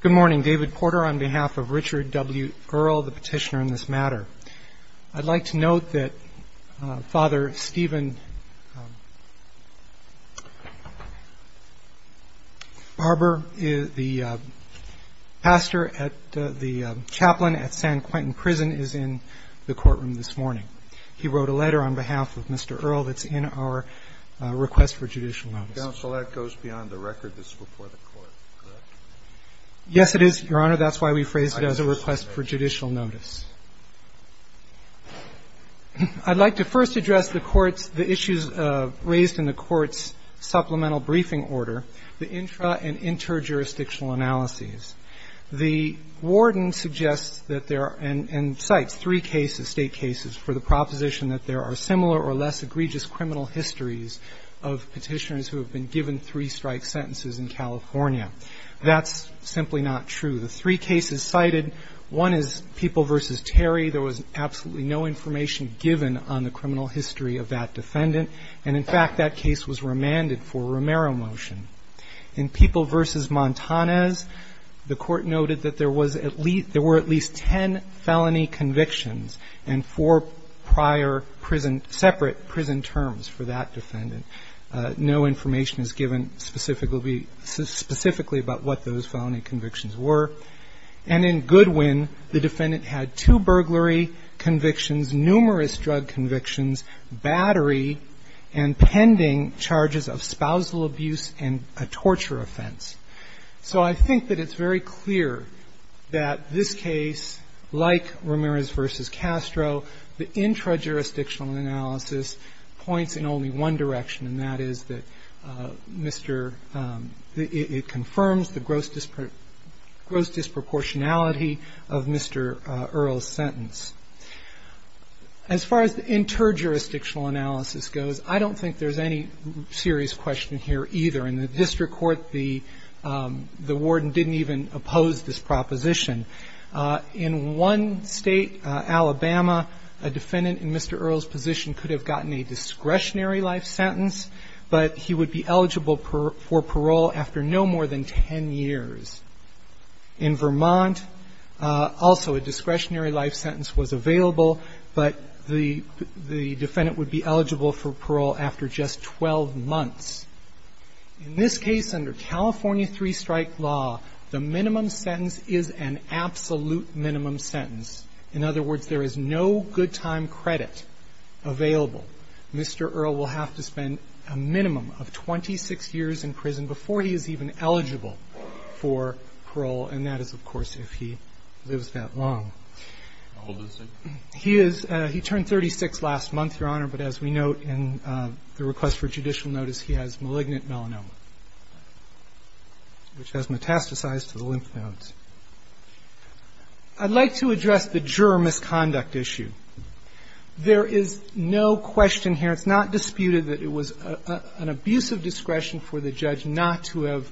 Good morning. David Porter on behalf of Richard W. Earle, the petitioner in this matter. I'd like to note that Father Stephen Barber, the pastor, the chaplain at San Quentin Prison is in the courtroom this morning. He wrote a letter on behalf of Mr. Earle that's in our request for judicial notice. The counsel, that goes beyond the record that's before the court, correct? Yes, it is, Your Honor. That's why we phrased it as a request for judicial notice. I'd like to first address the court's issues raised in the court's supplemental briefing order, the intra- and inter-jurisdictional analyses. The warden suggests that there are, and cites, three cases, State cases, for the proposition that there are similar or less egregious criminal histories of petitioners who have been given three-strike sentences in California. That's simply not true. The three cases cited, one is People v. Terry. There was absolutely no information given on the criminal history of that defendant. And, in fact, that case was remanded for a Romero motion. In People v. Montanez, the court noted that there was at least ten felony convictions and four prior prison, separate prison terms for that defendant. No information is given specifically about what those felony convictions were. And in Goodwin, the defendant had two burglary convictions, numerous drug convictions, battery, and pending charges of spousal abuse and a torture offense. So I think that it's very clear that this case, like Romero's v. Castro, the intra-jurisdictional analysis points in only one direction, and that is that Mr. — it confirms the gross disproportionality of Mr. Earle's sentence. As far as the inter-jurisdictional analysis goes, I don't think there's any serious question here either. In the district of Vermont, also a discretionary life sentence was available, but the defendant would be eligible for parole after just 12 months. In this case, under California three-strike law, the minimum sentence is an absolute minimum sentence. In other words, there is no good-time credit available. Mr. Earle will have to spend a minimum of 26 years in prison before he is even eligible for parole, and that is, of course, if he lives that long. He is — he turned 36 last month, Your Honor, but as we note in the request for judicial notice, he has malignant melanoma, which has not been identified as metastasized to the lymph nodes. I'd like to address the juror misconduct issue. There is no question here. It's not disputed that it was an abuse of discretion for the judge not to have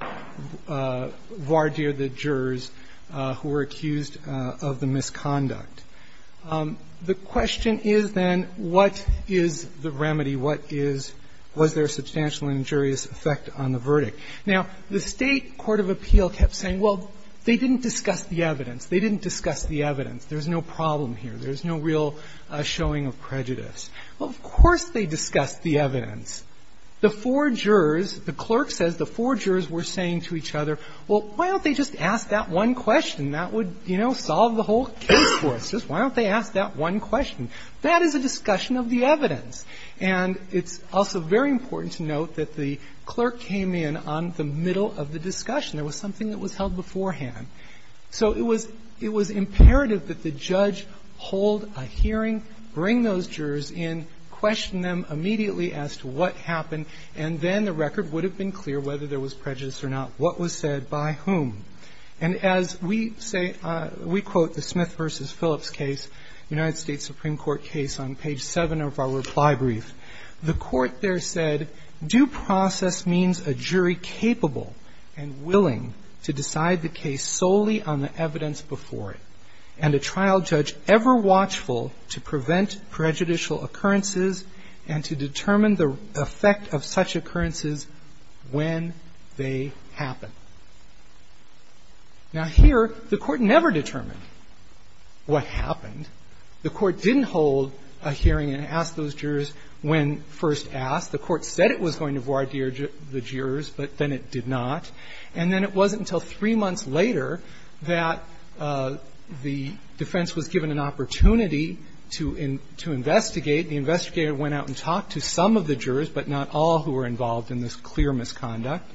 voir dire the jurors who were accused of the misconduct. The question is, then, what is the remedy? What is — was there a substantial injurious effect on the verdict? Now, the State Court of Appeal kept saying, well, they didn't discuss the evidence. They didn't discuss the evidence. There's no problem here. There's no real showing of prejudice. Well, of course they discussed the evidence. The four jurors, the clerk says the four jurors were saying to each other, well, why don't they just ask that one question? That would, you know, solve the whole case for us. Just why don't they ask that one question? There was something that was held beforehand. So it was imperative that the judge hold a hearing, bring those jurors in, question them immediately as to what happened, and then the record would have been clear whether there was prejudice or not, what was said by whom. And as we say — we quote the Smith v. Phillips case, United States Supreme Court case on page 7 of our reply brief. The court there said due process means a jury capable and willing to decide the case solely on the evidence before it, and a trial judge ever watchful to prevent prejudicial occurrences and to determine the effect of such occurrences when they happen. Now, here, the Court never determined what happened. The Court didn't hold a hearing and ask those jurors when first asked. The Court said it was going to voir dire the jurors, but then it did not. And then it wasn't until three months later that the defense was given an opportunity to investigate. The investigator went out and talked to some of the jurors, but not all, who were involved in this clear misconduct.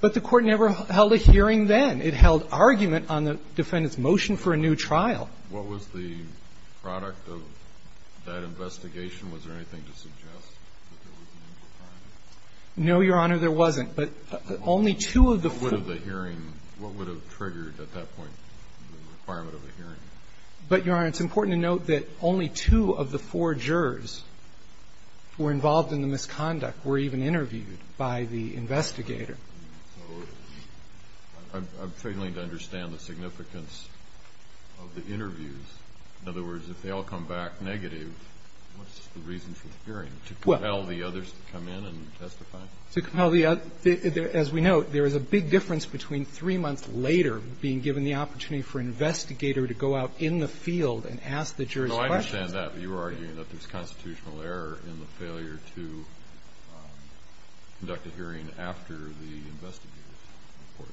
But the Court never held a hearing then. It held argument on the defendant's motion for a new trial. What was the product of that investigation? Was there anything to suggest that there was a new trial? No, Your Honor, there wasn't. But only two of the four — What would have the hearing — what would have triggered at that point the requirement of a hearing? But, Your Honor, it's important to note that only two of the four jurors who were involved in the misconduct were even interviewed by the investigator. So I'm failing to understand the significance of the interviews. In other words, if they all come back negative, what's the reason for the hearing? To compel the others to come in and testify? To compel the others. As we know, there is a big difference between three months later being given the opportunity for an investigator to go out in the field and ask the jurors questions. No, I understand that. But you were arguing that there's constitutional error in the failure to conduct a hearing after the investigator reports.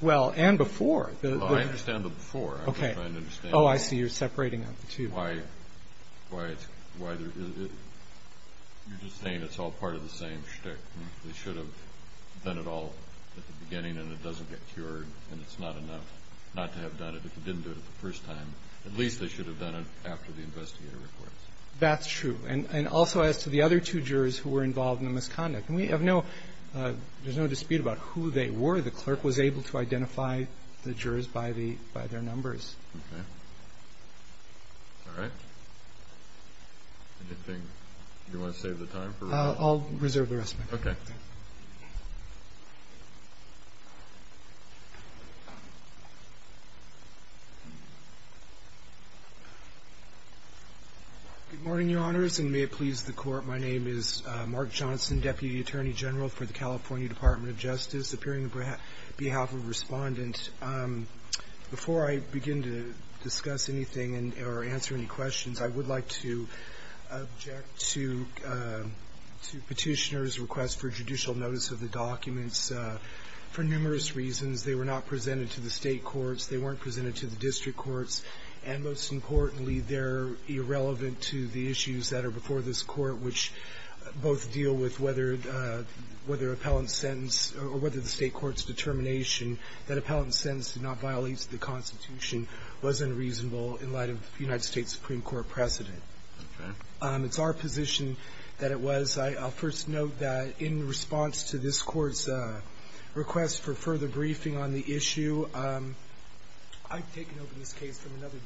Well, and before. Well, I understand the before. I'm just trying to understand — Oh, I see. You're separating out the two. — why it's — you're just saying it's all part of the same shtick. They should have done it all at the beginning and it doesn't get cured and it's not enough not to have done it if they didn't do it the first time. At least they should have done it after the investigator reports. That's true. And also as to the other two jurors who were involved in the misconduct. We have no — there's no dispute about who they were. The clerk was able to identify the jurors by their numbers. Okay. All right. Anything — do you want to save the time for — I'll reserve the rest of my time. Okay. Good morning, Your Honors, and may it please the Court. My name is Mark Johnson, Deputy Attorney General for the California Department of Justice, appearing on behalf of Respondent. Before I begin to discuss anything or answer any questions, I would like to object to Petitioner's request for judicial notice of the documents for numerous reasons. They were not presented to the State courts. They weren't irrelevant to the issues that are before this Court, which both deal with whether — whether appellant's sentence — or whether the State court's determination that appellant's sentence did not violate the Constitution was unreasonable in light of the United States Supreme Court precedent. Okay. It's our position that it was. I'll first note that in response to this Court's request for further briefing on the issue, I've taken over this case from another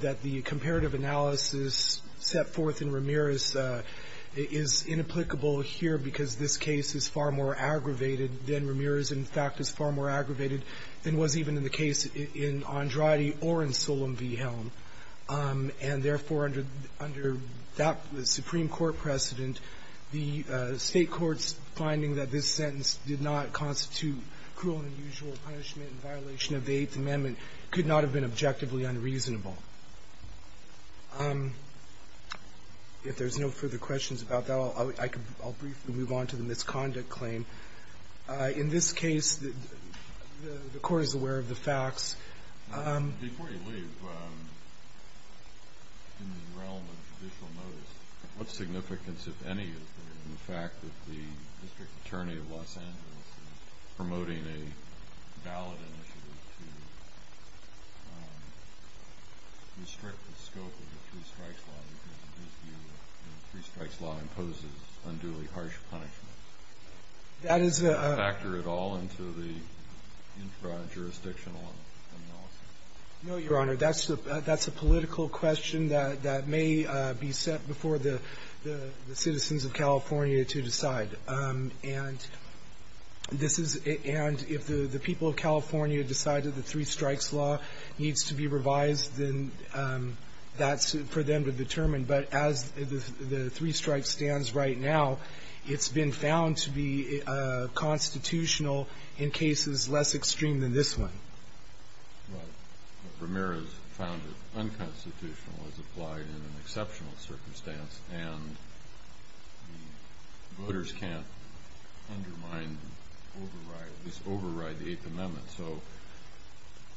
that the comparative analysis set forth in Ramirez is inapplicable here because this case is far more aggravated than Ramirez, in fact, is far more aggravated than was even in the case in Andrade or in Solem v. Helm. And therefore, under that Supreme Court precedent, the State court's finding that this sentence did not constitute cruel and unusual punishment in violation of the Eighth Amendment could not have been objectively unreasonable. If there's no further questions about that, I'll briefly move on to the misconduct claim. In this case, the Court is aware of the facts. Before you leave, in the realm of judicial notice, what significance, if any, is there in the fact that the district attorney of Los Angeles is promoting a ballot initiative to restrict the scope of the Free Strikes Law because in his view, the Free Strikes Law imposes unduly harsh punishment? That is a factor at all into the intra-jurisdictional analysis? No, Your Honor. That's a political question that may be set before the citizens of California to decide. And this is and if the people of California decide that the Three Strikes Law needs to be revised, then that's for them to determine. But as the Three Strikes stands right now, it's been found to be constitutional in cases less extreme than this one. But Ramirez found it unconstitutional as applied in an exceptional circumstance and the voters can't undermine, override, at least override the Eighth Amendment. So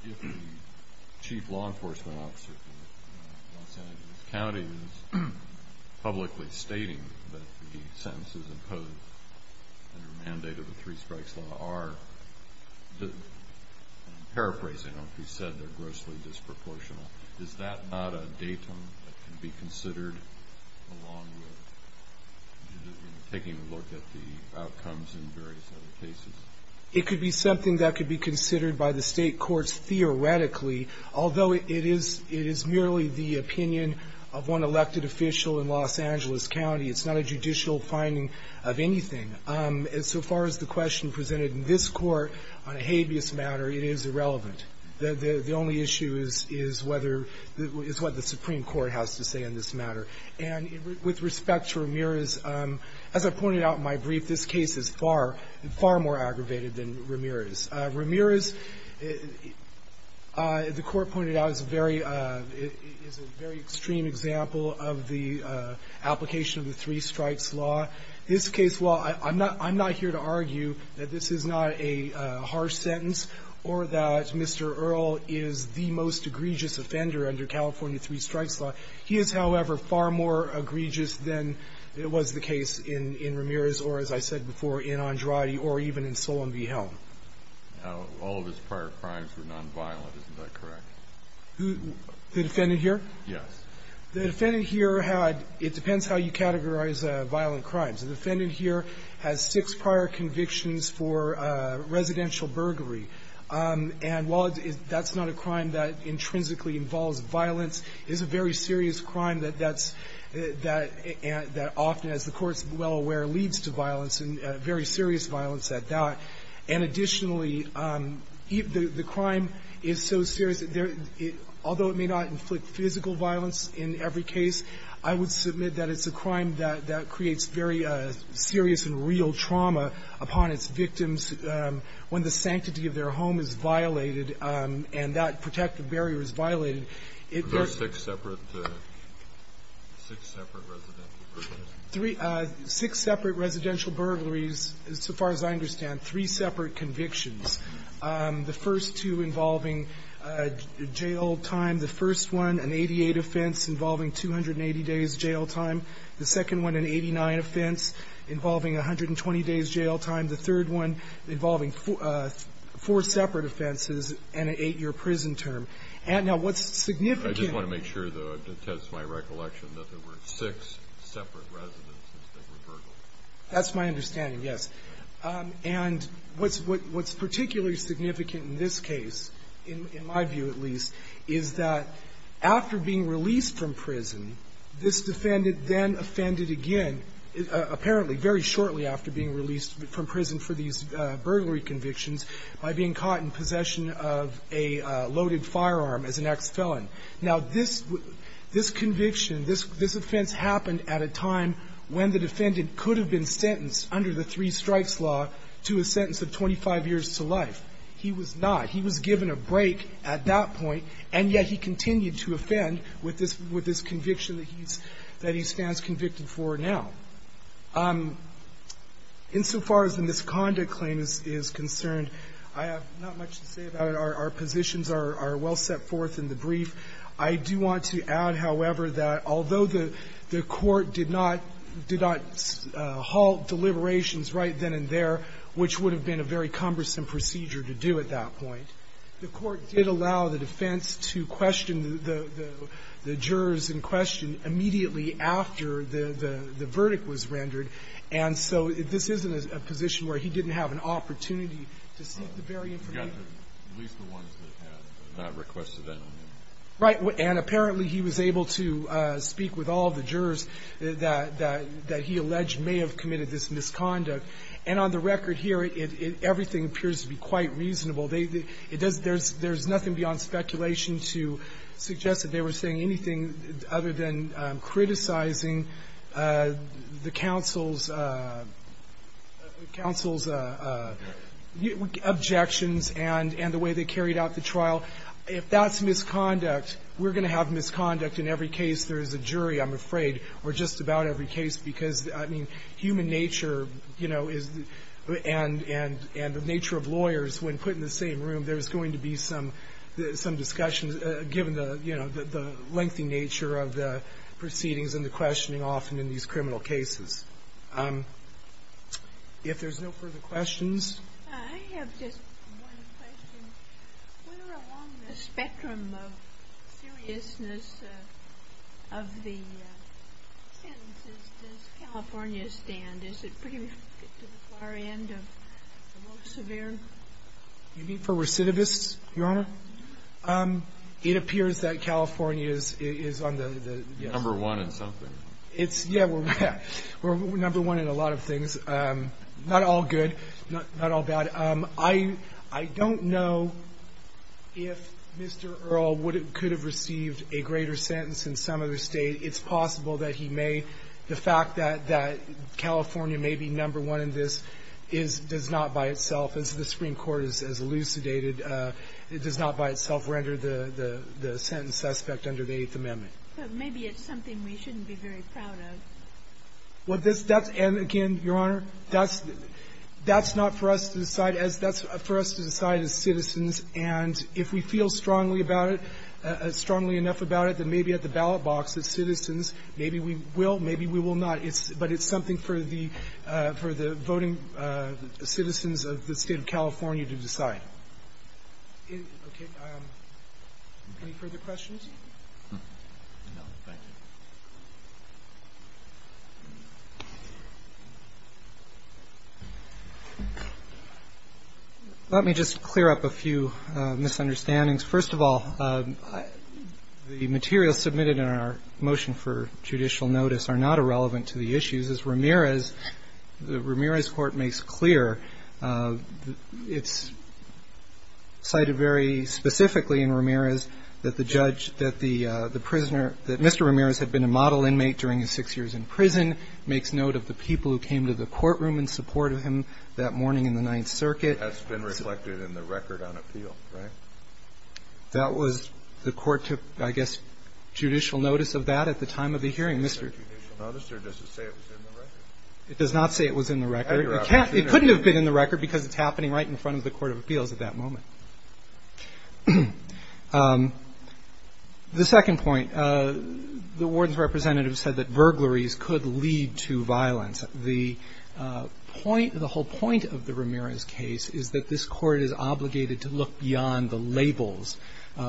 if the chief law enforcement officer for Los Angeles County is publicly stating that the sentences imposed under the mandate of the Three Strikes Law are, paraphrasing on what you said, they're grossly disproportional, is that not a datum that can be considered along with taking a look at the outcomes in various other cases? It could be something that could be considered by the state courts theoretically, although it is merely the opinion of one elected official in Los Angeles County. It's not a judicial finding of anything. So far as the question presented in this court on a habeas matter, it is irrelevant. The only issue is what the Supreme Court has to say on this matter. And with respect to Ramirez, as I pointed out in my brief, this case is far, far more aggravated than Ramirez. Ramirez, the Court pointed out, is a very extreme example of the application of the Three Strikes Law. This case, while I'm not here to argue that this is not a harsh sentence or that Mr. Earle is the most egregious offender under California Three Strikes Law, he is, however, far more egregious than it was the case in Ramirez or, as I said before, in Andrade or even in Solon v. Helm. Now, all of his prior crimes were nonviolent. Isn't that correct? The defendant here? Yes. The defendant here had – it depends how you categorize violent crimes. The defendant here has six prior convictions for residential burglary. And while that's not a crime that intrinsically involves violence, it is a very serious crime that that's – that often, as the Court's well aware, leads to violence and very serious violence at that. And additionally, the crime is so serious that there – although it may not inflict physical violence in every case, I would submit that it's a crime that creates very serious and real trauma upon its victims when the sanctity of their home is violated and that protective barrier is violated. It – Are there six separate – six separate residential burglaries? Three – six separate residential burglaries, so far as I understand, three separate convictions. The first two involving jail time. The first one, an 88 offense involving 280 days jail time. The second one, an 89 offense involving 120 days jail time. The third one involving four separate offenses and an 8-year prison term. And now, what's significant – I just want to make sure, though, to test my recollection, that there were six separate residences that were burgled. That's my understanding, yes. And what's – what's particularly significant in this case, in my view at least, is that after being released from prison, this defendant then offended again, apparently very shortly after being released from prison for these burglary convictions, by being caught in possession of a loaded firearm as an ex-felon. Now, this – this conviction, this offense happened at a time when the defendant could have been sentenced under the three-strikes law to a sentence of 25 years to life. He was not. He was given a break at that point, and yet he continued to offend with this – with this conviction that he's – that he stands convicted for now. Insofar as the misconduct claim is concerned, I have not much to say about it. Our positions are well set forth in the brief. I do want to add, however, that although the court did not – did not halt deliberations right then and there, which would have been a very cumbersome procedure to do at that point, the court did allow the defense to question the jurors in question immediately after the – the verdict was rendered. And so this isn't a position where he didn't have an opportunity to seek the very information. We've got at least the ones that have not requested anything. Right. And apparently, he was able to speak with all of the jurors that – that he alleged may have committed this misconduct. And on the record here, it – it – everything appears to be quite reasonable. They – it does – there's – there's nothing beyond speculation to suggest that they were saying anything other than criticizing the counsel's – counsel's objections and – and the way they carried out the trial. If that's misconduct, we're going to have misconduct in every case. There is a jury, I'm afraid, or just about every case, because, I mean, human nature, you know, is – and – and the nature of lawyers, when put in the same room, there is a lengthy nature of the proceedings and the questioning often in these criminal cases. If there's no further questions. I have just one question. Where along the spectrum of seriousness of the sentences does California stand? Is it pretty much to the far end of the most severe? You mean for recidivists, Your Honor? It appears that California is – is on the – the – Number one in something. It's – yeah, we're number one in a lot of things. Not all good. Not all bad. I – I don't know if Mr. Earle would have – could have received a greater sentence in some other State. It's possible that he may. The fact that – that California may be number one in this is – does not by itself, as the Supreme Court has elucidated, it does not by itself render the – the sentence suspect under the Eighth Amendment. But maybe it's something we shouldn't be very proud of. Well, that's – and again, Your Honor, that's – that's not for us to decide as – that's for us to decide as citizens. And if we feel strongly about it, strongly enough about it, then maybe at the ballot box as citizens, maybe we will, maybe we will not. But it's something for the – for the voting citizens of the State of California to decide. Any further questions? Let me just clear up a few misunderstandings. First of all, the materials submitted in our motion for judicial notice are not irrelevant to the issues. As Ramirez – the Ramirez court makes clear, it's cited very specifically in Ramirez that the judge – that the prisoner – that Mr. Ramirez had been a model inmate during his six years in prison, makes note of the people who came to the courtroom in support of him that morning in the Ninth Circuit. That's been reflected in the record on appeal, right? That was – the court took, I guess, judicial notice of that at the time of the hearing. It does not say it was in the record. It couldn't have been in the record because it's happening right in front of the court of appeals at that moment. The second point, the warden's representative said that burglaries could lead to violence. The point – the whole point of the Ramirez case is that this court is obligated to look beyond the labels. In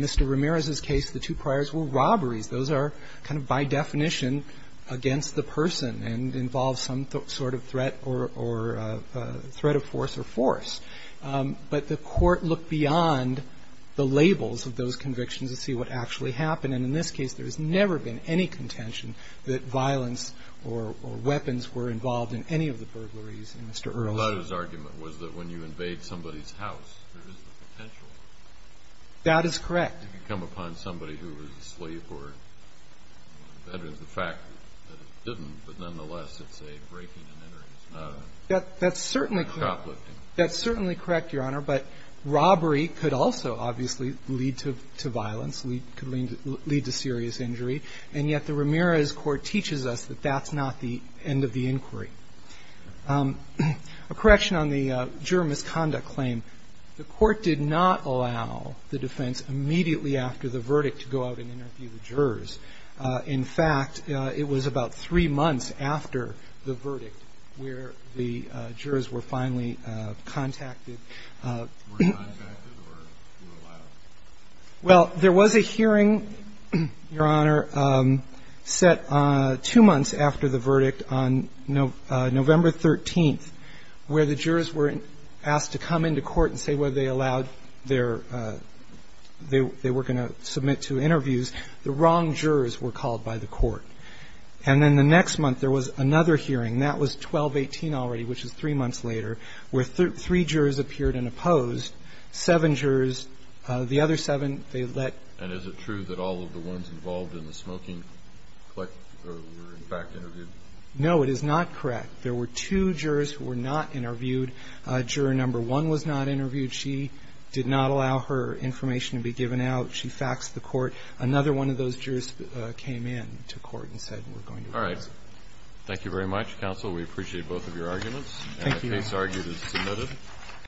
Mr. Ramirez's case, the two priors were robberies. Those are kind of by definition against the person and involve some sort of threat or threat of force or force. But the court looked beyond the labels of those convictions to see what actually happened. And in this case, there has never been any contention that violence or weapons were involved in any of the burglaries in Mr. Earls. The lawyer's argument was that when you invade somebody's house, there is no potential. That is correct. The fact that it could come upon somebody who was a slave or a veteran is the fact that it didn't, but nonetheless, it's a breaking and entering. It's not a cop lifting. That's certainly correct, Your Honor, but robbery could also obviously lead to violence, could lead to serious injury. And yet the Ramirez court teaches us that that's not the end of the inquiry. A correction on the juror misconduct claim. The court did not allow the defense immediately after the verdict to go out and interview the jurors. In fact, it was about three months after the verdict where the jurors were finally contacted. Were contacted or were allowed? Well, there was a hearing, Your Honor, set two months after the verdict on November 13th, where the jurors were asked to come into court and say whether they allowed their – they were going to submit to interviews. The wrong jurors were called by the court. And then the next month there was another hearing. That was 12-18 already, which is three months later, where three jurors appeared and opposed. Seven jurors, the other seven, they let. And is it true that all of the ones involved in the smoking were in fact interviewed? No, it is not correct. There were two jurors who were not interviewed. Juror number one was not interviewed. She did not allow her information to be given out. She faxed the court. Another one of those jurors came in to court and said we're going to do this. All right. Thank you very much, counsel. We appreciate both of your arguments. Thank you. And the case argued is submitted.